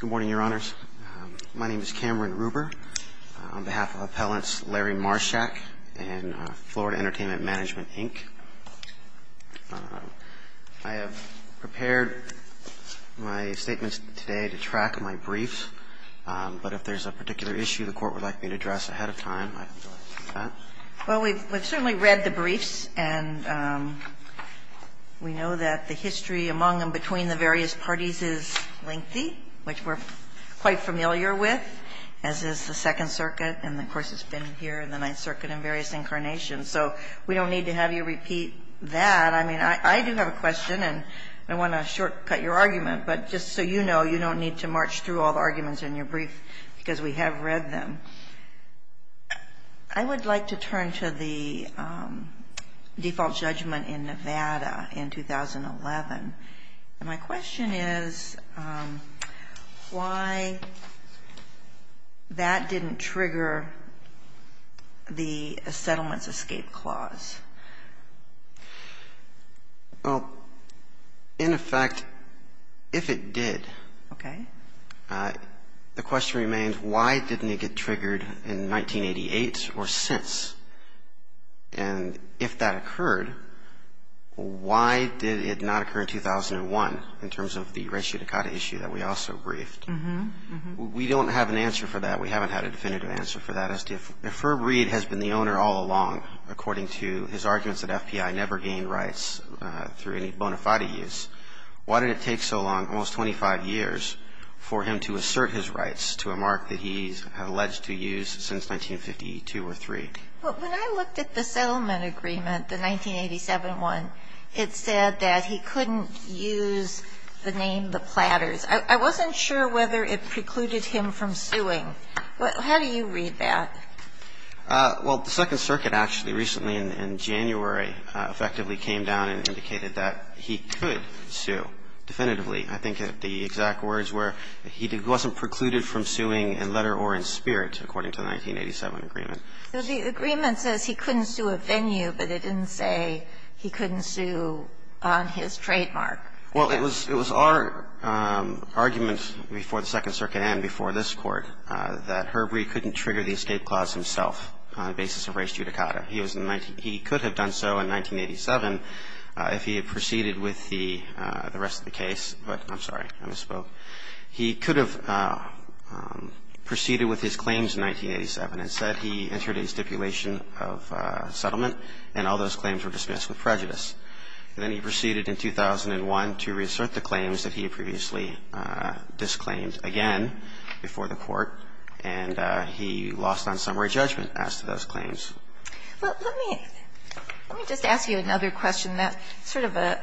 Good morning, Your Honors. My name is Cameron Ruber. On behalf of Appellants Larry Marshak and Florida Entertainment Mgmt, Inc., I have prepared my statements today to track my briefs, but if there's a particular issue the Court would like me to address ahead of time, I can do that. Well, we've certainly read the briefs, and we know that the history among and between the various parties is lengthy, which we're quite familiar with, as is the Second Circuit, and, of course, it's been here in the Ninth Circuit in various incarnations. So we don't need to have you repeat that. I mean, I do have a question, and I want to shortcut your argument, but just so you know, you don't need to march through all the arguments in your brief because we have read them. I would like to turn to the default judgment in Nevada in 2011, and my question is why that didn't trigger the Settlements Escape Clause? Well, in effect, if it did, the question remains, why didn't it get triggered in 1988 or since? And if that occurred, why did it not occur in 2001 in terms of the Ratio Dakota issue that we also briefed? We don't have an answer for that. We haven't had a definitive answer for that. If Ferb Reed has been the owner all along, according to his arguments that FBI never gained rights through any bona fide use, why did it take so long, almost 25 years, for him to assert his rights to a mark that he's alleged to use since 1952 or three? Well, when I looked at the settlement agreement, the 1987 one, it said that he couldn't use the name the Platters. I wasn't sure whether it precluded him from suing. How do you read that? Well, the Second Circuit actually recently in January effectively came down and indicated that he could sue definitively. I think the exact words were he wasn't precluded from suing in letter or in spirit, according to the 1987 agreement. So the agreement says he couldn't sue a venue, but it didn't say he couldn't sue on his trademark. Well, it was our argument before the Second Circuit and before this Court that Herb Reed couldn't trigger the escape clause himself on the basis of Race Judicata. He was in the 19 — he could have done so in 1987 if he had proceeded with the rest of the case, but I'm sorry. I misspoke. He could have proceeded with his claims in 1987 and said he entered a stipulation of settlement and all those claims were dismissed with prejudice. And then he proceeded in 2001 to reassert the claims that he had previously disclaimed again before the Court, and he lost on summary judgment as to those claims. Well, let me just ask you another question that's sort of an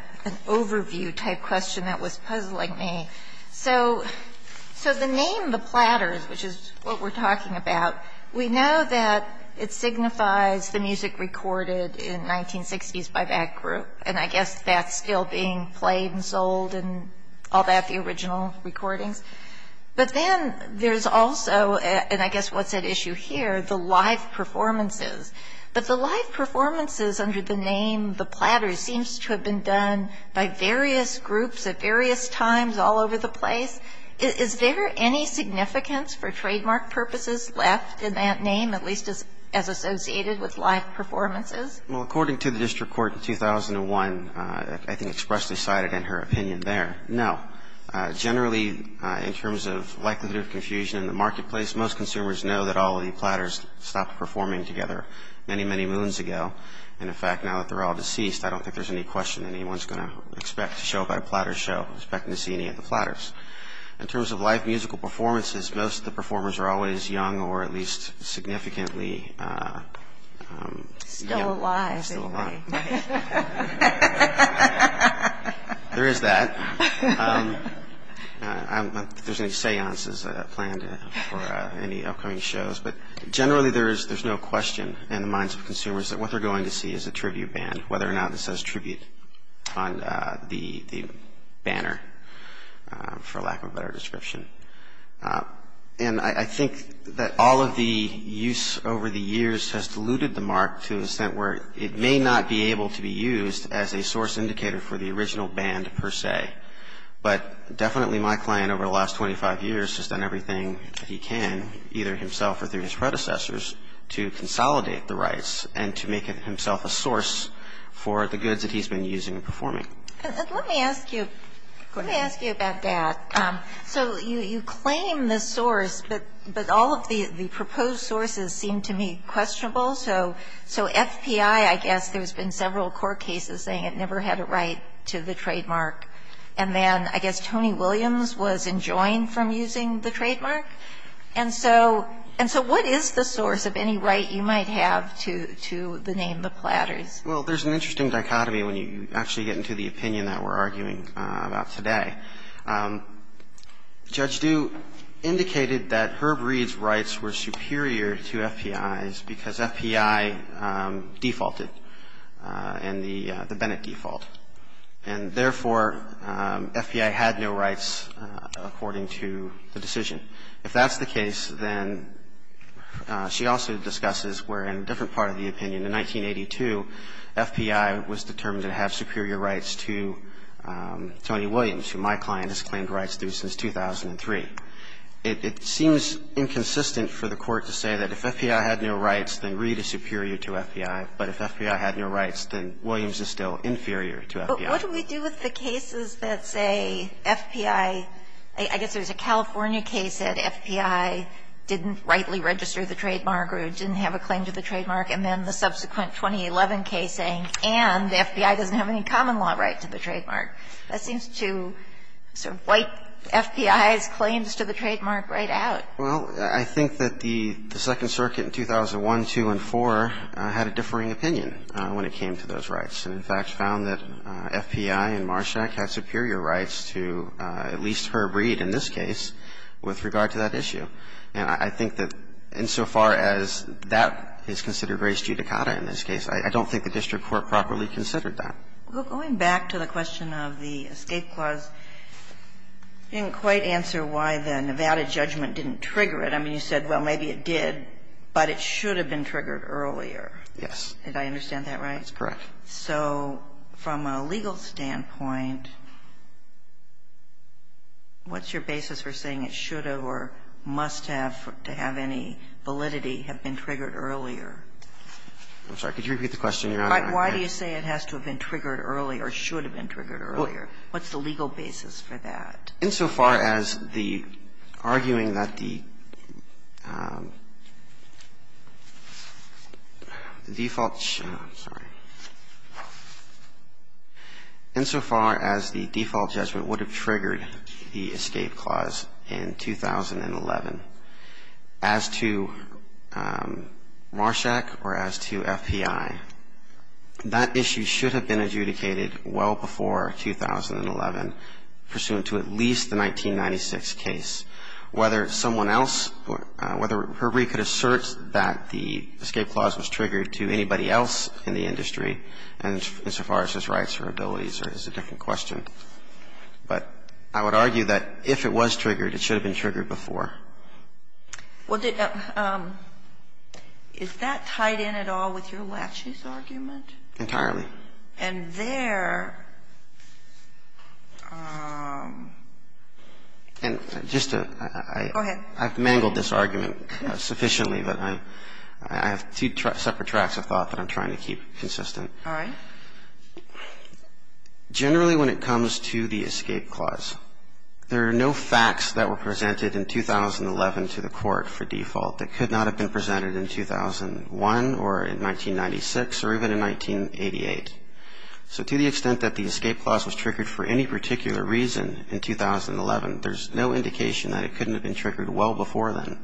overview-type question that was puzzling me. So the name, the platters, which is what we're talking about, we know that it signifies the music recorded in 1960s by that group. And I guess that's still being played and sold and all that, the original recordings. But then there's also, and I guess what's at issue here, the live performances. But the live performances under the name, the platters, seems to have been done by various groups at various times all over the place. Is there any significance for trademark purposes left in that name, at least as associated with live performances? Well, according to the district court in 2001, I think expressly cited in her opinion there, no. Generally, in terms of likelihood of confusion in the marketplace, most consumers know that all of the platters stopped performing together many, many moons ago. And in fact, now that they're all deceased, I don't think there's any question anyone's going to expect to show up at a platter show, expecting to see any of the platters. In terms of live musical performances, most of the performers are always young or at least significantly young. Still alive. Still alive. There is that. I don't think there's any seances planned for any upcoming shows. But generally, there's no question in the minds of consumers that what they're going to see is a tribute band, whether or not it says tribute on the banner, for lack of a better description. And I think that all of the use over the years has diluted the mark to an extent where it may not be able to be used as a source indicator for the original band, per se. But definitely my client over the last 25 years has done everything that he can, either himself or through his predecessors, to consolidate the rights and to make himself a source for the goods that he's been using and performing. And let me ask you about that. So you claim the source, but all of the proposed sources seem to me questionable. So FPI, I guess there's been several court cases saying it never had a right to the trademark. And then I guess Tony Williams was enjoined from using the trademark. And so what is the source of any right you might have to the name The Platters? Well, there's an interesting dichotomy when you actually get into the opinion that we're arguing about today. Judge Due indicated that Herb Reed's rights were superior to FPI's because FPI defaulted in the Bennett default. And therefore, FPI had no rights according to the decision. If that's the case, then she also discusses where in a different part of the opinion, in 1982, FPI was determined to have superior rights to Tony Williams, who my client has claimed rights to since 2003. It seems inconsistent for the Court to say that if FPI had no rights, then Reed is superior to FPI. But if FPI had no rights, then Williams is still inferior to FPI. What do we do with the cases that say FPI, I guess there's a California case that FPI didn't rightly register the trademark or didn't have a claim to the trademark. And then the subsequent 2011 case saying, and FPI doesn't have any common law right to the trademark. That seems to sort of wipe FPI's claims to the trademark right out. Well, I think that the Second Circuit in 2001, 2 and 4 had a differing opinion when it came to those rights. And in fact, found that FPI and Marshak had superior rights to at least Herb Reed in this case with regard to that issue. And I think that insofar as that is considered race judicata in this case, I don't think the district court properly considered that. Well, going back to the question of the escape clause, you didn't quite answer why the Nevada judgment didn't trigger it. I mean, you said, well, maybe it did, but it should have been triggered earlier. Yes. Did I understand that right? That's correct. So from a legal standpoint, what's your basis for saying it should have or must have to have any validity have been triggered earlier? I'm sorry. Could you repeat the question? You're not answering it. Why do you say it has to have been triggered earlier or should have been triggered earlier? What's the legal basis for that? Insofar as the arguing that the default, sorry, insofar as the default judgment would have triggered the escape clause in 2011 as to Marshak or as to FPI, that issue should have been adjudicated well before 2011 pursuant to at least Herb Reed's 1996 case. Whether someone else, whether Herb Reed could assert that the escape clause was triggered to anybody else in the industry and as far as his rights or abilities is a different question. But I would argue that if it was triggered, it should have been triggered before. Well, is that tied in at all with your laches argument? Entirely. And there — And just to — Go ahead. I've mangled this argument sufficiently, but I have two separate tracks of thought that I'm trying to keep consistent. All right. Generally when it comes to the escape clause, there are no facts that were presented in 2011 to the court for default that could not have been presented in 2001 or in 1996 or even in 1988. So to the extent that the escape clause was triggered for any particular reason in 2011, there's no indication that it couldn't have been triggered well before then.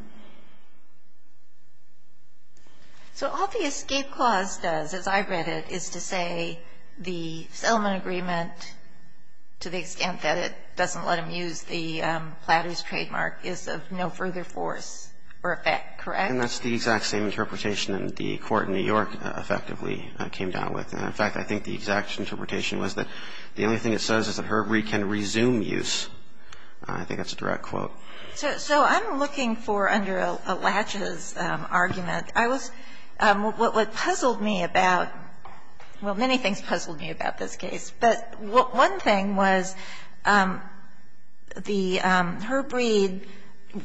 So all the escape clause does, as I read it, is to say the settlement agreement to the extent that it doesn't let them use the platter's trademark is of no further force or effect, correct? And that's the exact same interpretation that the court in New York effectively came down with. In fact, I think the exact interpretation was that the only thing it says is that Herbreed can resume use. I think that's a direct quote. So I'm looking for, under a laches argument, I was — what puzzled me about — well, many things puzzled me about this case. But one thing was the — Herbreed,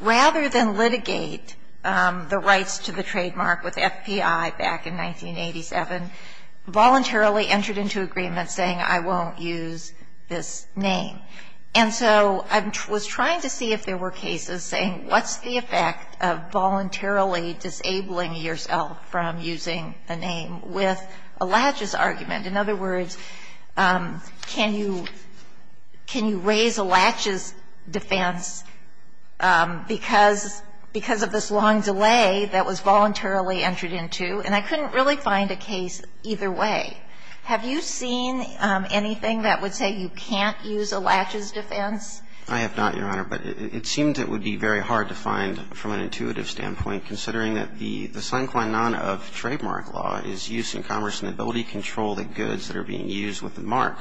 rather than litigate the rights to the trademark with FPI back in 1987, voluntarily entered into agreement saying, I won't use this name. And so I was trying to see if there were cases saying, what's the effect of voluntarily disabling yourself from using the name with a laches argument? In other words, can you — can you raise a laches defense because — because of this long delay that was voluntarily entered into? And I couldn't really find a case either way. Have you seen anything that would say you can't use a laches defense? I have not, Your Honor. But it seems it would be very hard to find, from an intuitive standpoint, considering that the — the sine qua non of trademark law is use in commerce and ability to control the goods that are being used with the mark.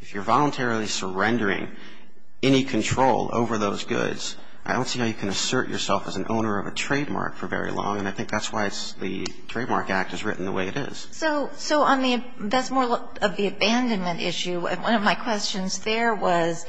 If you're voluntarily surrendering any control over those goods, I don't see how you can assert yourself as an owner of a trademark for very long. And I think that's why it's — the Trademark Act is written the way it is. So — so on the — that's more of the abandonment issue. And one of my questions there was,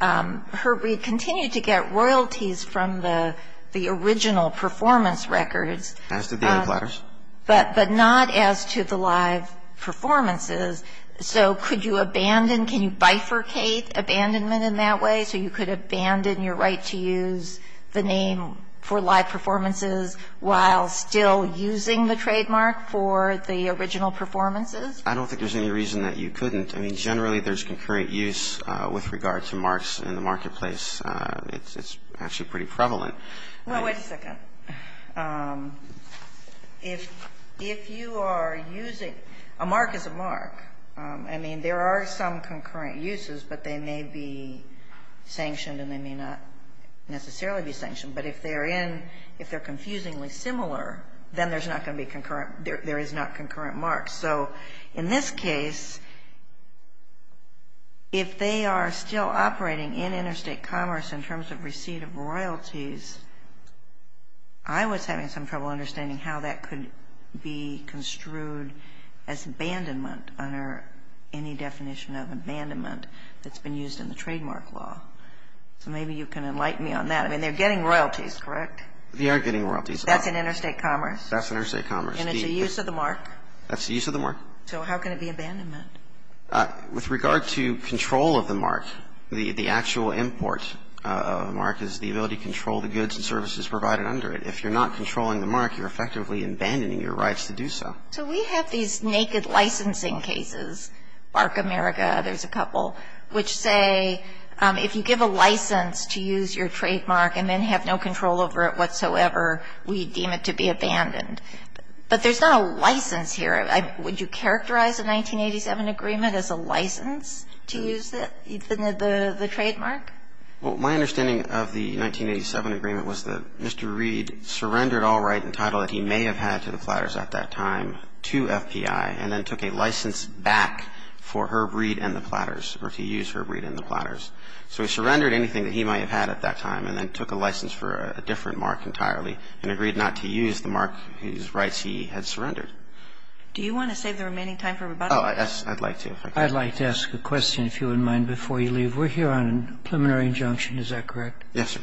Herb, we continue to get royalties from the — the original performance records. As did the other platters. But — but not as to the live performances. So could you abandon — can you bifurcate abandonment in that way, so you could abandon your right to use the name for live performances while still using the trademark for the original performances? I don't think there's any reason that you couldn't. I mean, generally, there's concurrent use with regard to marks in the marketplace. It's — it's actually pretty prevalent. Well, wait a second. If — if you are using — a mark is a mark. I mean, there are some concurrent uses, but they may be sanctioned and they may not necessarily be sanctioned. But if they're in — if they're confusingly similar, then there's not going to be concurrent — there is not concurrent marks. So in this case, if they are still operating in interstate commerce in terms of receipt of royalties, I was having some trouble understanding how that could be construed as abandonment under any definition of abandonment that's been used in the trademark law. So maybe you can enlighten me on that. I mean, they're getting royalties, correct? They are getting royalties. That's in interstate commerce? That's interstate commerce. And it's a use of the mark? That's the use of the mark. So how can it be abandonment? With regard to control of the mark, the — the actual import of a mark is the ability to control the goods and services provided under it. If you're not controlling the mark, you're effectively abandoning your rights to do so. So we have these naked licensing cases, BarkAmerica, there's a couple, which say if you give a license to use your trademark and then have no control over it whatsoever, we deem it to be abandoned. But there's not a license here. Would you characterize a 1987 agreement as a license to use the trademark? Well, my understanding of the 1987 agreement was that Mr. Reed surrendered all right and title that he may have had to the Platters at that time to FPI and then took a license back for Herb Reed and the Platters, or to use Herb Reed and the Platters. So he surrendered anything that he might have had at that time and then took a license for a different mark entirely and agreed not to use the mark whose rights he had surrendered. Do you want to save the remaining time for rebuttal? Oh, I'd like to. I'd like to ask a question, if you wouldn't mind, before you leave. We're here on a preliminary injunction. Is that correct? Yes, sir.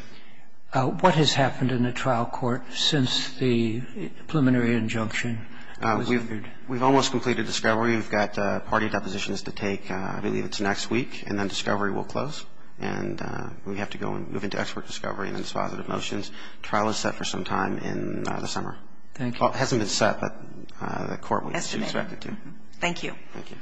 What has happened in the trial court since the preliminary injunction was rendered? We've almost completed discovery. We've got party depositions to take, I believe it's next week, and then discovery will close. And we have to go and move into expert discovery and dispositive motions. The trial is set for some time in the summer. Thank you. Well, it hasn't been set, but the court would expect it to. Thank you. Thank you.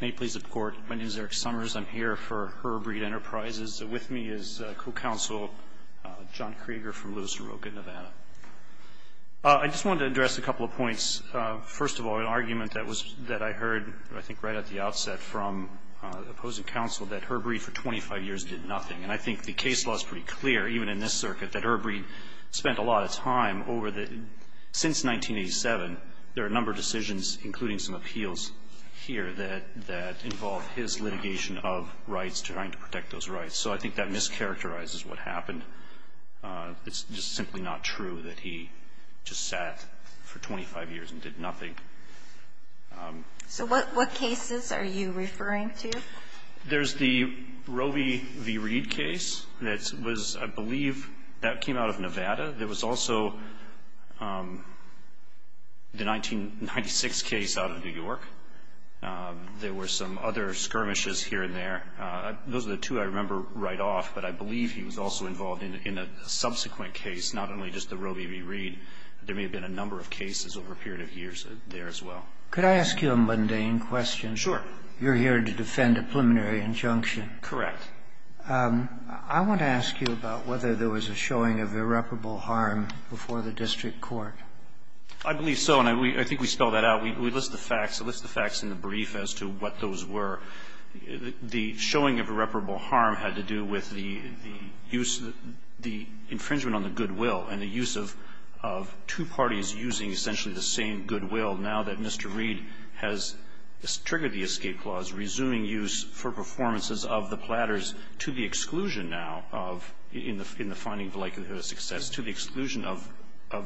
May it please the Court. My name is Eric Summers. I'm here for Herbreed Enterprises. With me is co-counsel John Krieger from Lewis and Roca, Nevada. I just wanted to address a couple of points. First of all, an argument that was that I heard, I think right at the outset from opposing counsel, that Herbreed for 25 years did nothing. And I think the case law is pretty clear, even in this circuit, that Herbreed spent a lot of time over the, since 1987, there are a number of decisions, including some appeals here, that involve his litigation of rights, trying to protect those rights. So I think that mischaracterizes what happened. It's just simply not true that he just sat for 25 years and did nothing. So what cases are you referring to? There's the Roe v. Reed case that was, I believe, that came out of Nevada. There was also the 1996 case out of New York. There were some other skirmishes here and there. Those are the two I remember right off, but I believe he was also involved in a subsequent case, not only just the Roe v. Reed. There may have been a number of cases over a period of years there as well. Could I ask you a mundane question? Sure. You're here to defend a preliminary injunction. Correct. I want to ask you about whether there was a showing of irreparable harm before the district court. I believe so, and I think we spelled that out. We list the facts. We list the facts in the brief as to what those were. The showing of irreparable harm had to do with the use of the infringement on the goodwill and the use of two parties using essentially the same goodwill now that Mr. Reed has triggered the escape clause, resuming use for performances of the platters to the exclusion now of the finding of likelihood of success, to the exclusion of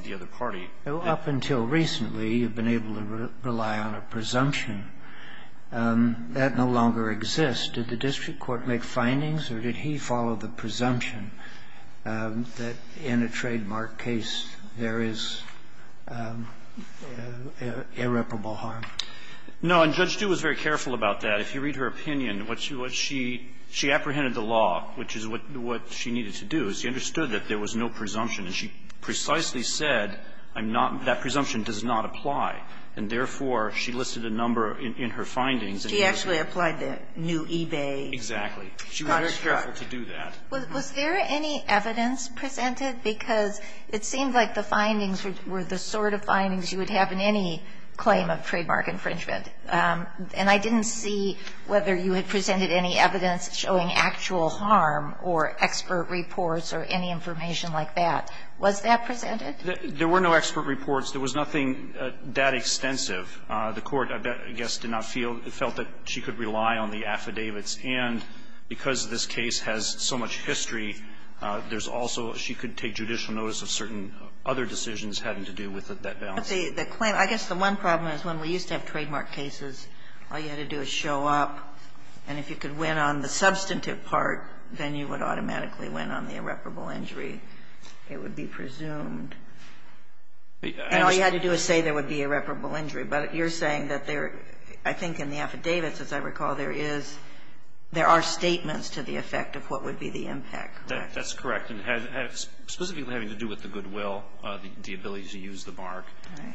the other party. Up until recently, you've been able to rely on a presumption. That no longer exists. Did the district court make findings or did he follow the presumption that in a trademark case there is irreparable harm? No. And Judge Du was very careful about that. If you read her opinion, what she was, she apprehended the law, which is what she needed to do. She understood that there was no presumption, and she precisely said, I'm not, that presumption does not apply. And therefore, she listed a number in her findings. She actually applied the new eBay. Exactly. She was very careful to do that. Was there any evidence presented? Because it seemed like the findings were the sort of findings you would have in any claim of trademark infringement. And I didn't see whether you had presented any evidence showing actual harm or expert reports or any information like that. Was that presented? There were no expert reports. There was nothing that extensive. The Court, I guess, did not feel, felt that she could rely on the affidavits. And because this case has so much history, there's also, she could take judicial notice of certain other decisions having to do with that balance. But the claim, I guess the one problem is when we used to have trademark cases, all you had to do is show up, and if you could win on the substantive part, then you would automatically win on the irreparable injury. It would be presumed. And all you had to do is say there would be irreparable injury. But you're saying that there, I think in the affidavits, as I recall, there is, there are statements to the effect of what would be the impact, correct? That's correct. And specifically having to do with the goodwill, the ability to use the mark.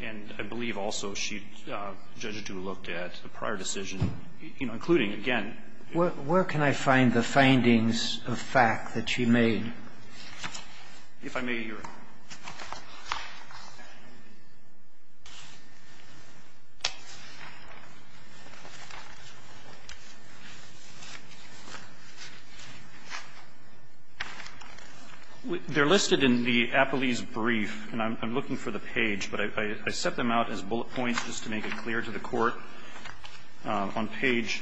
And I believe also she, Judge Adu looked at a prior decision, including, again. Where can I find the findings of fact that she made? If I may, Your Honor. They're listed in the Appelese brief, and I'm looking for the page, but I set them out as bullet points just to make it clear to the Court. On page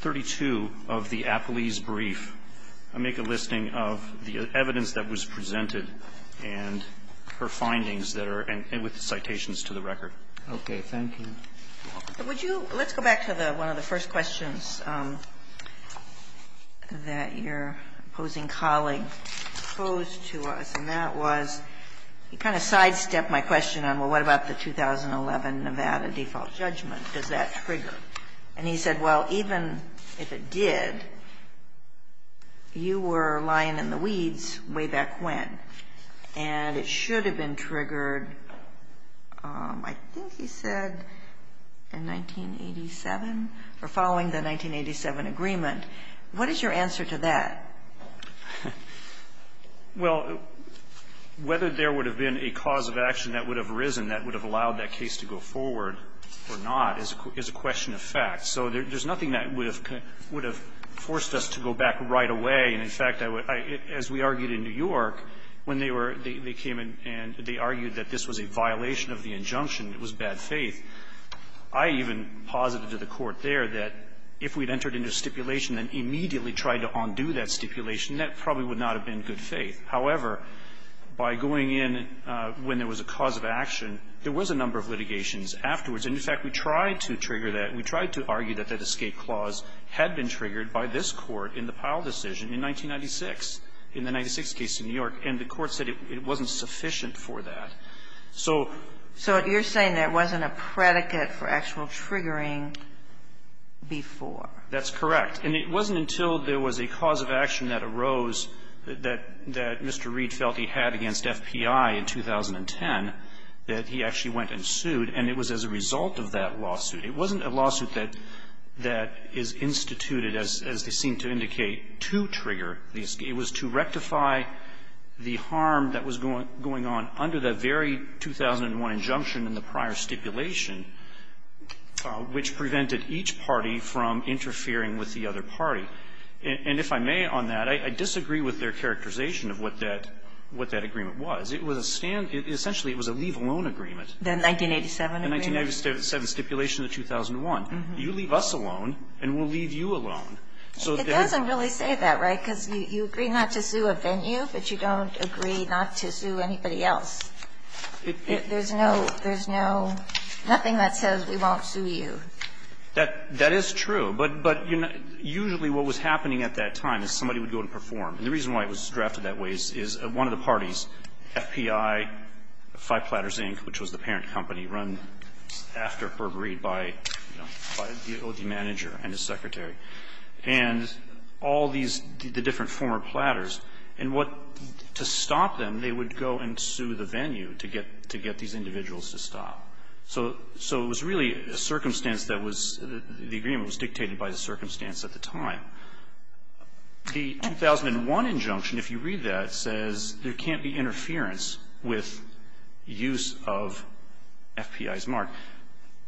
32 of the Appelese brief, I make a listing of the evidence that was presented to the Court. And her findings that are, and with the citations to the record. Okay. Thank you. Would you, let's go back to the, one of the first questions that your opposing colleague posed to us, and that was, he kind of sidestepped my question on, well, what about the 2011 Nevada default judgment? Does that trigger? And he said, well, even if it did, you were lying in the weeds way back when. And it should have been triggered, I think he said, in 1987, or following the 1987 agreement. What is your answer to that? Well, whether there would have been a cause of action that would have arisen that would have allowed that case to go forward or not is a question of fact. So there's nothing that would have forced us to go back right away. And, in fact, as we argued in New York, when they were, they came and they argued that this was a violation of the injunction, it was bad faith. I even posited to the Court there that if we had entered into stipulation and immediately tried to undo that stipulation, that probably would not have been good faith. However, by going in when there was a cause of action, there was a number of litigations afterwards. And, in fact, we tried to trigger that. We tried to argue that that escape clause had been triggered by this Court in the Powell decision in 1996, in the 1996 case in New York, and the Court said it wasn't sufficient for that. So you're saying there wasn't a predicate for actual triggering before? That's correct. And it wasn't until there was a cause of action that arose that Mr. Reed felt he had against FPI in 2010 that he actually went and sued, and it was as a result of that lawsuit. It wasn't a lawsuit that is instituted, as they seem to indicate, to trigger the escape. It was to rectify the harm that was going on under the very 2001 injunction in the prior stipulation, which prevented each party from interfering with the other party. And if I may on that, I disagree with their characterization of what that agreement was. It was a stand – essentially, it was a leave alone agreement. The 1987 agreement? The 1987 stipulation of 2001. You leave us alone, and we'll leave you alone. It doesn't really say that, right? Because you agree not to sue a venue, but you don't agree not to sue anybody else. There's no – there's no – nothing that says we won't sue you. That is true. But usually what was happening at that time is somebody would go and perform. And the reason why it was drafted that way is one of the parties, FPI, Five Platters Inc., which was the parent company run after Herb Reed by, you know, by the OD manager and his secretary, and all these – the different former platters, and what – to stop them, they would go and sue the venue to get – to get these individuals to stop. So it was really a circumstance that was – the agreement was dictated by the circumstance at the time. The 2001 injunction, if you read that, says there can't be interference with use of FPI's mark.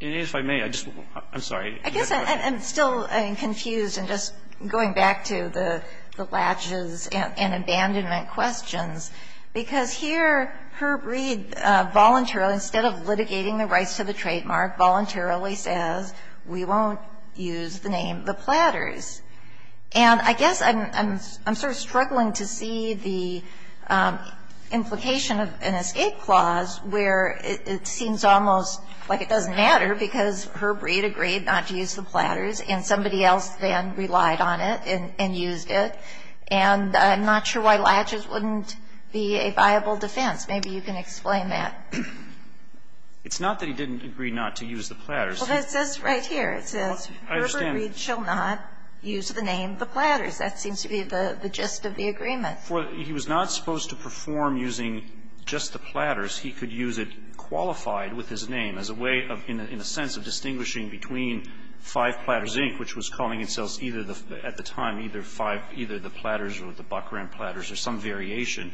And if I may, I just – I'm sorry. I guess I'm still confused, and just going back to the latches and abandonment questions, because here Herb Reed voluntarily, instead of litigating the rights to the trademark, voluntarily says we won't use the name The Platters. And I guess I'm sort of struggling to see the implication of an escape clause where it seems almost like it doesn't matter because Herb Reed agreed not to use The Platters, and somebody else then relied on it and used it. And I'm not sure why latches wouldn't be a viable defense. Maybe you can explain that. It's not that he didn't agree not to use The Platters. Well, that says right here. It says, Herb Reed shall not use the name The Platters. That seems to be the gist of the agreement. He was not supposed to perform using just The Platters. He could use it qualified with his name as a way of – in a sense of distinguishing between 5 Platters, Inc., which was calling itself either the – at the time, either 5 – either The Platters or The Buckram Platters or some variation.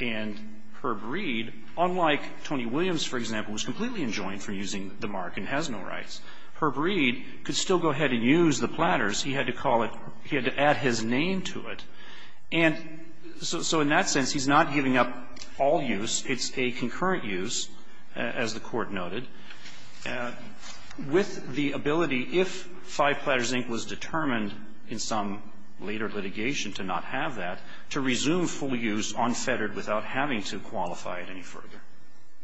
And Herb Reed, unlike Tony Williams, for example, was completely enjoined for using the mark and has no rights. Herb Reed could still go ahead and use The Platters. He had to call it – he had to add his name to it. And so in that sense, he's not giving up all use. It's a concurrent use, as the Court noted, with the ability, if 5 Platters, Inc. was determined in some later litigation to not have that, to resume full use unfettered without having to qualify it any further.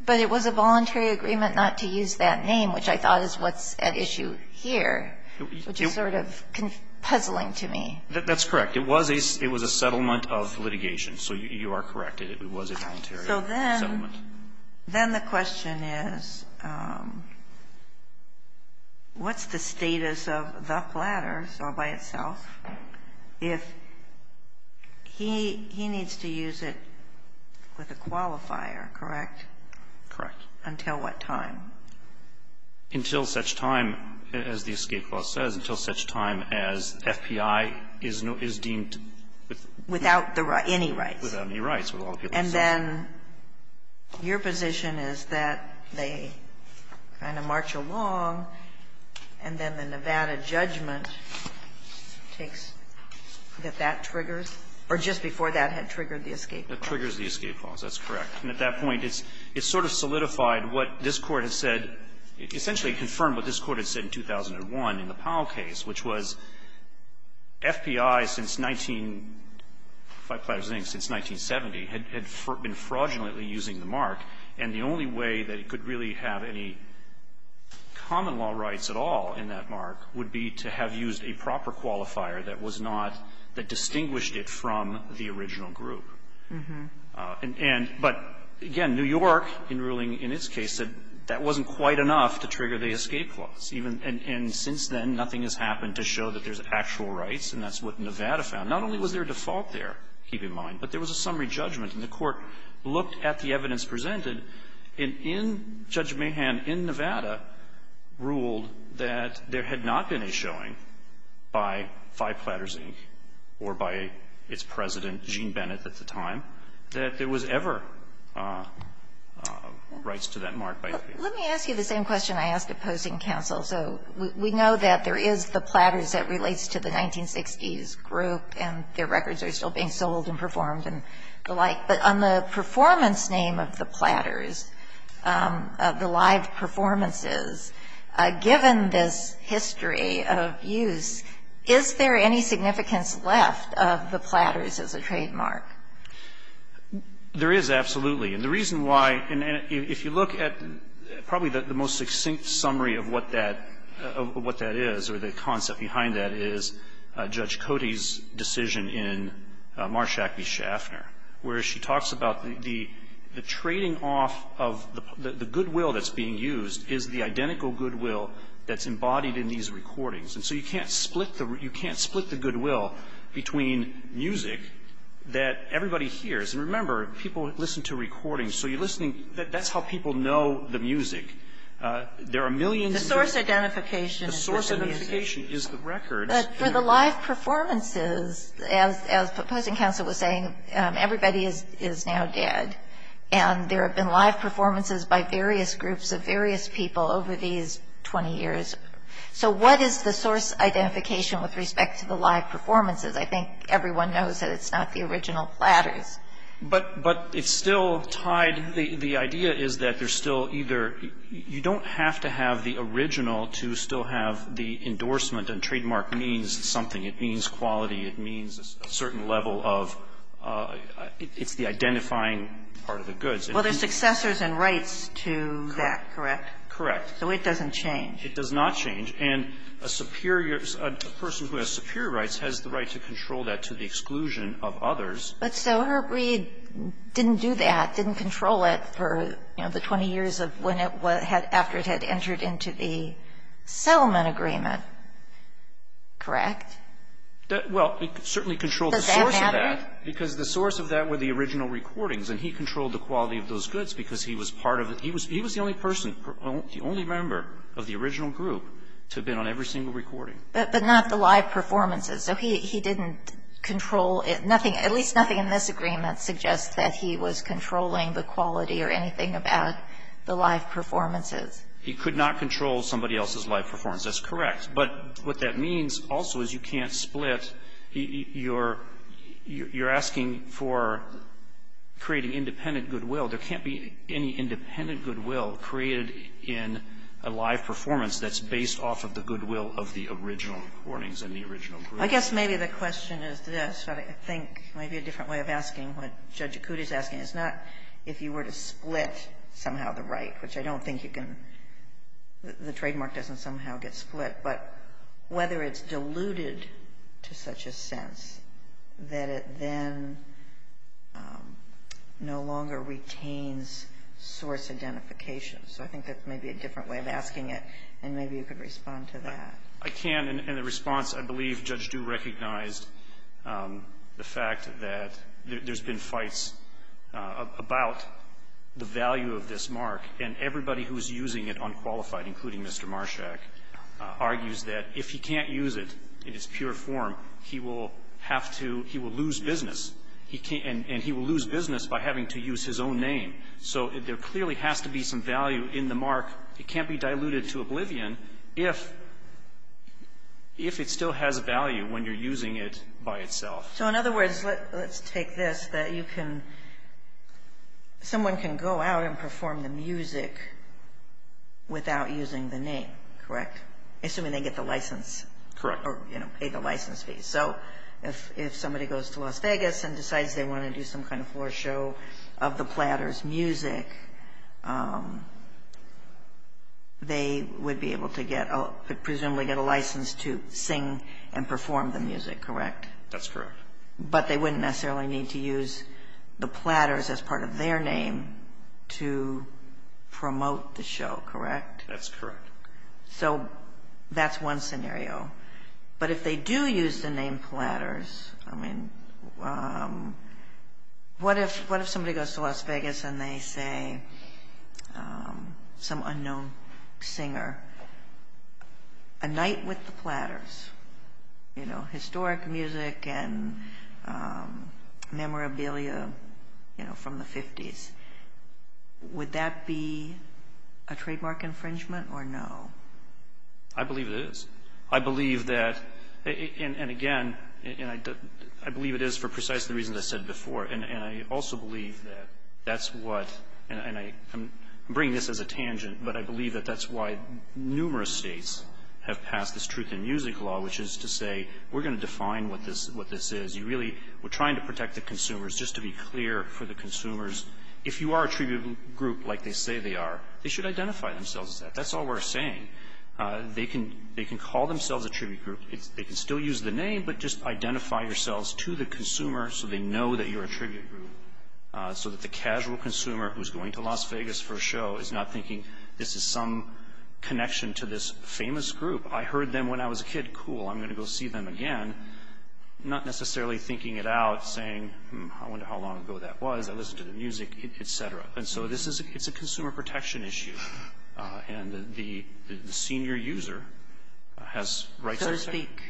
But it was a voluntary agreement not to use that name, which I thought is what's at issue here, which is sort of puzzling to me. That's correct. It was a – it was a settlement of litigation. So you are correct. It was a voluntary settlement. Then the question is, what's the status of The Platters all by itself if he – he needs to use it with a qualifier, correct? Correct. Until what time? Until such time, as the escape clause says, until such time as FPI is deemed Without the right – any rights. Without any rights, with all due respect. And then your position is that they kind of march along, and then the Nevada judgment takes – that that triggers? Or just before that had triggered the escape clause? That triggers the escape clause. That's correct. And at that point, it's sort of solidified what this Court has said – essentially confirmed what this Court has said in 2001 in the Powell case, which was FPI since 19 – by Platters, I think since 1970, had – had been fraudulently using the mark. And the only way that it could really have any common law rights at all in that mark would be to have used a proper qualifier that was not – that distinguished it from the original group. And – but, again, New York, in ruling – in its case, said that wasn't quite enough to trigger the escape clause. And since then, nothing has happened to show that there's actual rights, and that's what Nevada found. Not only was there a default there, keep in mind, but there was a summary judgment. And the Court looked at the evidence presented, and in – Judge Mahan in Nevada ruled that there had not been a showing by Phi Platters, Inc., or by its president, Gene Bennett, at the time, that there was ever rights to that mark by FPI. Let me ask you the same question I asked opposing counsel. So we know that there is the Platters that relates to the 1960s group, and their records are still being sold and performed and the like. But on the performance name of the Platters, of the live performances, given this history of use, is there any significance left of the Platters as a trademark? There is, absolutely. And the reason why – and if you look at probably the most succinct summary of what that is, or the concept behind that, is Judge Cody's decision in Marshack v. Schaffner, where she talks about the trading off of – the goodwill that's being used is the identical goodwill that's embodied in these recordings. And so you can't split the – you can't split the goodwill between music that everybody hears. And remember, people listen to recordings. So you're listening – that's how people know the music. There are millions of records. The source identification is the music. The source identification is the records. But for the live performances, as opposing counsel was saying, everybody is now dead. And there have been live performances by various groups of various people over these 20 years. So what is the source identification with respect to the live performances? I think everyone knows that it's not the original Platters. But it's still tied – the idea is that there's still either – you don't have to have the original to still have the endorsement. And trademark means something. It means quality. It means a certain level of – it's the identifying part of the goods. Well, there's successors and rights to that, correct? Correct. So it doesn't change. It does not change. And a superior – a person who has superior rights has the right to control that to the exclusion of others. But so Herb Reed didn't do that, didn't control it for, you know, the 20 years of when it was – after it had entered into the settlement agreement, correct? Well, he certainly controlled the source of that. Does that matter? Because the source of that were the original recordings. And he controlled the quality of those goods because he was part of it. He was the only person – the only member of the original group to have been on every single recording. But not the live performances. So he didn't control – nothing – at least nothing in this agreement suggests that he was controlling the quality or anything about the live performances. He could not control somebody else's live performance. That's correct. But what that means also is you can't split – you're asking for creating independent goodwill. There can't be any independent goodwill created in a live performance that's based off of the goodwill of the original recordings and the original group. I guess maybe the question is this, but I think maybe a different way of asking what Judge Acuti is asking is not if you were to split somehow the right, which I don't think you can – the trademark doesn't somehow get split. But whether it's diluted to such a sense that it then no longer retains source identification. So I think that's maybe a different way of asking it. And maybe you could respond to that. I can. In the response, I believe Judge Du recognized the fact that there's been fights about the value of this mark. And everybody who's using it, unqualified, including Mr. Marshak, argues that if he can't use it in its pure form, he will have to – he will lose business. He can't – and he will lose business by having to use his own name. So there clearly has to be some value in the mark. It can't be diluted to oblivion if it still has value when you're using it by itself. So in other words, let's take this, that you can – someone can go out and perform the music without using the name, correct? Assuming they get the license. Correct. Or, you know, pay the license fee. So if somebody goes to Las Vegas and decides they want to do some kind of show, they would be able to get – presumably get a license to sing and perform the music, correct? That's correct. But they wouldn't necessarily need to use the platters as part of their name to promote the show, correct? That's correct. So that's one scenario. But if they do use the name platters, I mean, what if somebody goes to Las Vegas and they say some unknown singer, a night with the platters, you know, historic music and memorabilia, you know, from the 50s, would that be a trademark infringement or no? I believe it is. I believe that – and again, I believe it is for precisely the reasons I said before, and I also believe that that's what – and I'm bringing this as a tangent, but I believe that that's why numerous states have passed this truth in music law, which is to say, we're going to define what this is. You really – we're trying to protect the consumers. Just to be clear for the consumers, if you are a tribute group like they say they are, they should identify themselves as that. That's all we're saying. They can call themselves a tribute group. They can still use the name, but just identify yourselves to the consumer so they know that you're a tribute group, so that the casual consumer who's going to Las Vegas for a show is not thinking, this is some connection to this famous group. I heard them when I was a kid. Cool, I'm going to go see them again. Not necessarily thinking it out, saying, hmm, I wonder how long ago that was. I listened to the music, et cetera. And so, this is – it's a consumer protection issue. And the senior user has rights to respect. So to speak,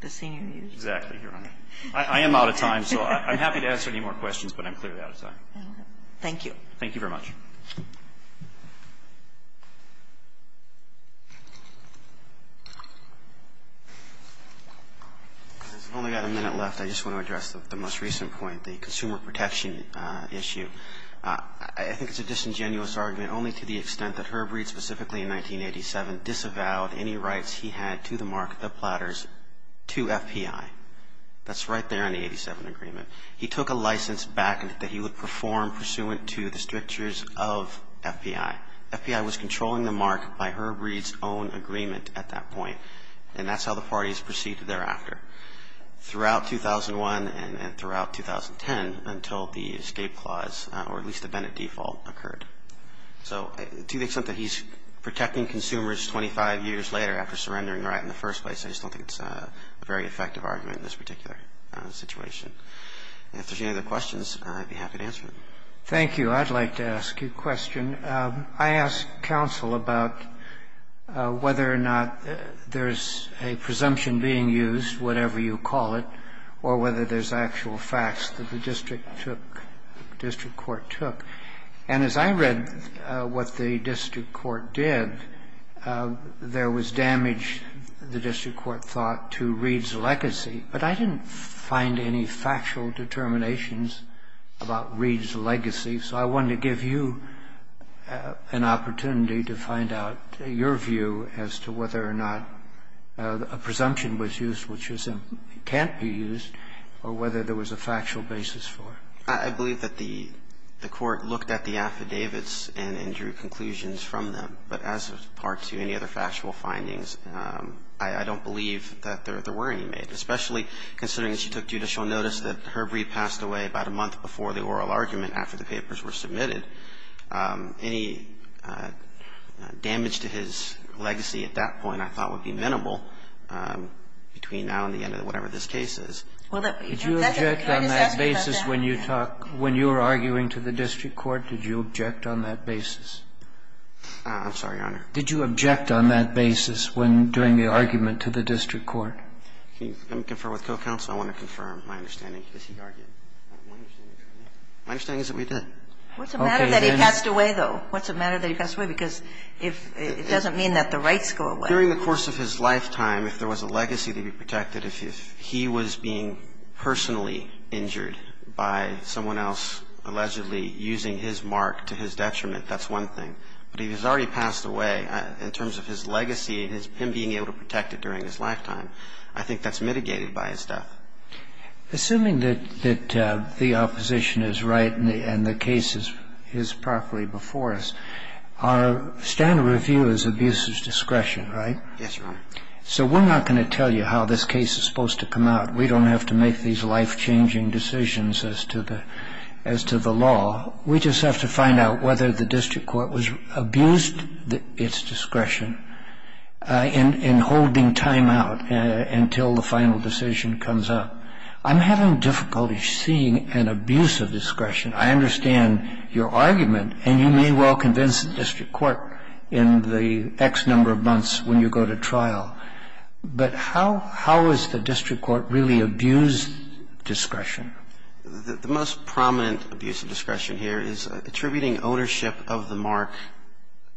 the senior user. Exactly, Your Honor. I am out of time, so I'm happy to answer any more questions, but I'm clearly out of time. Thank you. Thank you very much. I've only got a minute left. I just want to address the most recent point, the consumer protection issue. I think it's a disingenuous argument, only to the extent that Herb Reed specifically in 1987 disavowed any rights he had to the mark of the platters to FPI. That's right there in the 87 agreement. He took a license back that he would perform pursuant to the strictures of FPI. FPI was controlling the mark by Herb Reed's own agreement at that point, and that's how the parties proceeded thereafter. Throughout 2001 and throughout 2010, until the escape clause, or at least the Bennett default occurred. So to the extent that he's protecting consumers 25 years later after surrendering the right in the first place, I just don't think it's a very effective argument in this particular situation. And if there's any other questions, I'd be happy to answer them. Thank you. I'd like to ask you a question. I asked counsel about whether or not there's a presumption being used, whatever you call it, or whether there's actual facts that the district took, district court took. And as I read what the district court did, there was damage, the district court thought, to Reed's legacy, but I didn't find any factual determinations about Reed's legacy. So I wanted to give you an opportunity to find out your view as to whether or not a presumption was used, which can't be used, or whether there was a factual basis for it. I believe that the court looked at the affidavits and drew conclusions from them. But as of part two, any other factual findings, I don't believe that there were any made. Especially considering she took judicial notice that Herb Reed passed away about a month before the oral argument, after the papers were submitted. Any damage to his legacy at that point, I thought, would be minimal between now and the end of whatever this case is. Did you object on that basis when you talked, when you were arguing to the district court, did you object on that basis? I'm sorry, Your Honor. Did you object on that basis when doing the argument to the district court? Let me confirm with co-counsel. I want to confirm my understanding. My understanding is that we did. What's the matter that he passed away, though? What's the matter that he passed away? Because it doesn't mean that the rights go away. During the course of his lifetime, if there was a legacy to be protected, if he was being personally injured by someone else allegedly using his mark to his detriment, that's one thing. But if he's already passed away, in terms of his legacy and him being able to protect it during his lifetime, I think that's mitigated by his death. Assuming that the opposition is right and the case is properly before us, our standard of review is abuse of discretion, right? Yes, Your Honor. So we're not going to tell you how this case is supposed to come out. We don't have to make these life-changing decisions as to the law. We just have to find out whether the district court abused its discretion in holding time out until the final decision comes up. I'm having difficulty seeing an abuse of discretion. I understand your argument, and you may well convince the district court in the X number of months when you go to trial. But how is the district court really abused discretion? The most prominent abuse of discretion here is attributing ownership of the mark,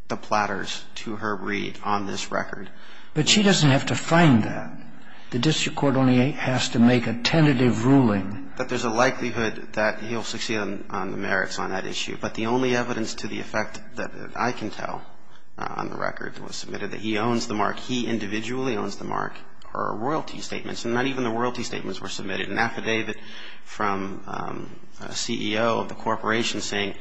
the platters, to Herb Reed on this record. But she doesn't have to find that. The district court only has to make a tentative ruling. But there's a likelihood that he'll succeed on the merits on that issue. But the only evidence to the effect that I can tell on the record that was submitted that he owns the mark, he individually owns the mark, are royalty statements. And not even the royalty statements were submitted. An affidavit from a CEO of the corporation saying,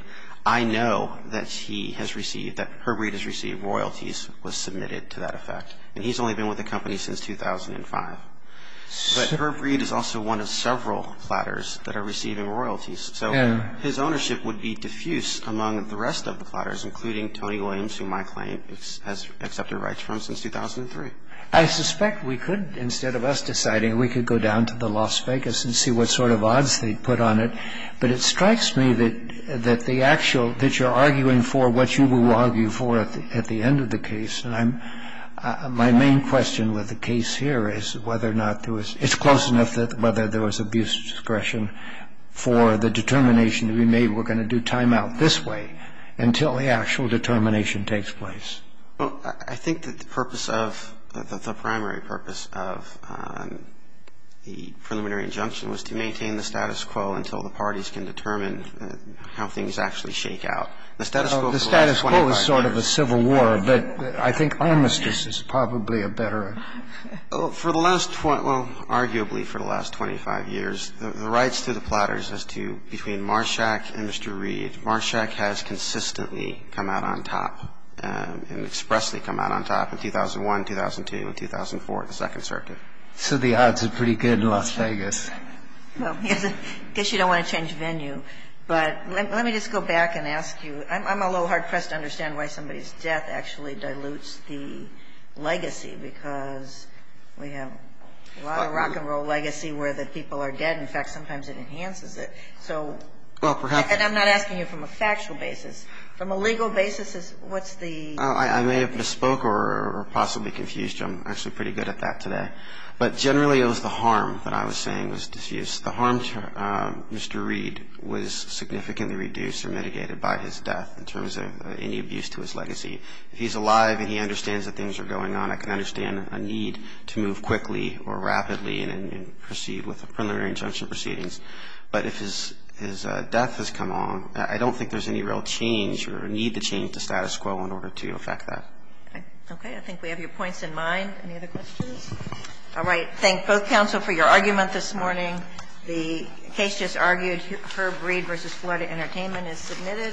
I know that he has received, that Herb Reed has received royalties was submitted to that effect. And he's only been with the company since 2005. But Herb Reed is also one of several platters that are receiving royalties. So his ownership would be diffuse among the rest of the platters, including Tony Williams, whom I claim has accepted rights from since 2003. I suspect we could, instead of us deciding, we could go down to the Las Vegas and see what sort of odds they'd put on it. But it strikes me that the actual, that you're arguing for what you will argue for at the end of the case. And I'm, my main question with the case here is whether or not there was, it's close enough that whether there was abuse discretion for the determination to be made, we're going to do timeout this way until the actual determination takes place. Well, I think that the purpose of, that the primary purpose of the preliminary injunction was to maintain the status quo until the parties can determine how things actually shake out. The status quo for the last 25 years. The status quo is sort of a civil war, but I think armistice is probably a better. For the last, well, arguably for the last 25 years, the rights to the platters as to, between Marshack and Mr. Reed, Marshack has consistently come out on top and expressly come out on top in 2001, 2002, and 2004, the Second Circuit. So the odds are pretty good in Las Vegas. Well, I guess you don't want to change venue, but let me just go back and ask you, I'm a little hard pressed to understand why somebody's death actually dilutes the legacy, because we have a lot of rock and roll legacy where the people are dead. In fact, sometimes it enhances it. So. Well, perhaps. And I'm not asking you from a factual basis. From a legal basis, what's the... I may have misspoke or possibly confused you. I'm actually pretty good at that today. But generally it was the harm that I was saying was disused. The harm to Mr. Reed was significantly reduced or mitigated by his death in terms of any abuse to his legacy. If he's alive and he understands that things are going on, I can understand a need to move quickly or rapidly and proceed with preliminary injunction proceedings. But if his death has come along, I don't think there's any real change or need to change the status quo in order to affect that. Okay. I think we have your points in mind. Any other questions? All right. Thank both counsel for your argument this morning. The case just argued. Herb Reed v. Florida Entertainment is submitted.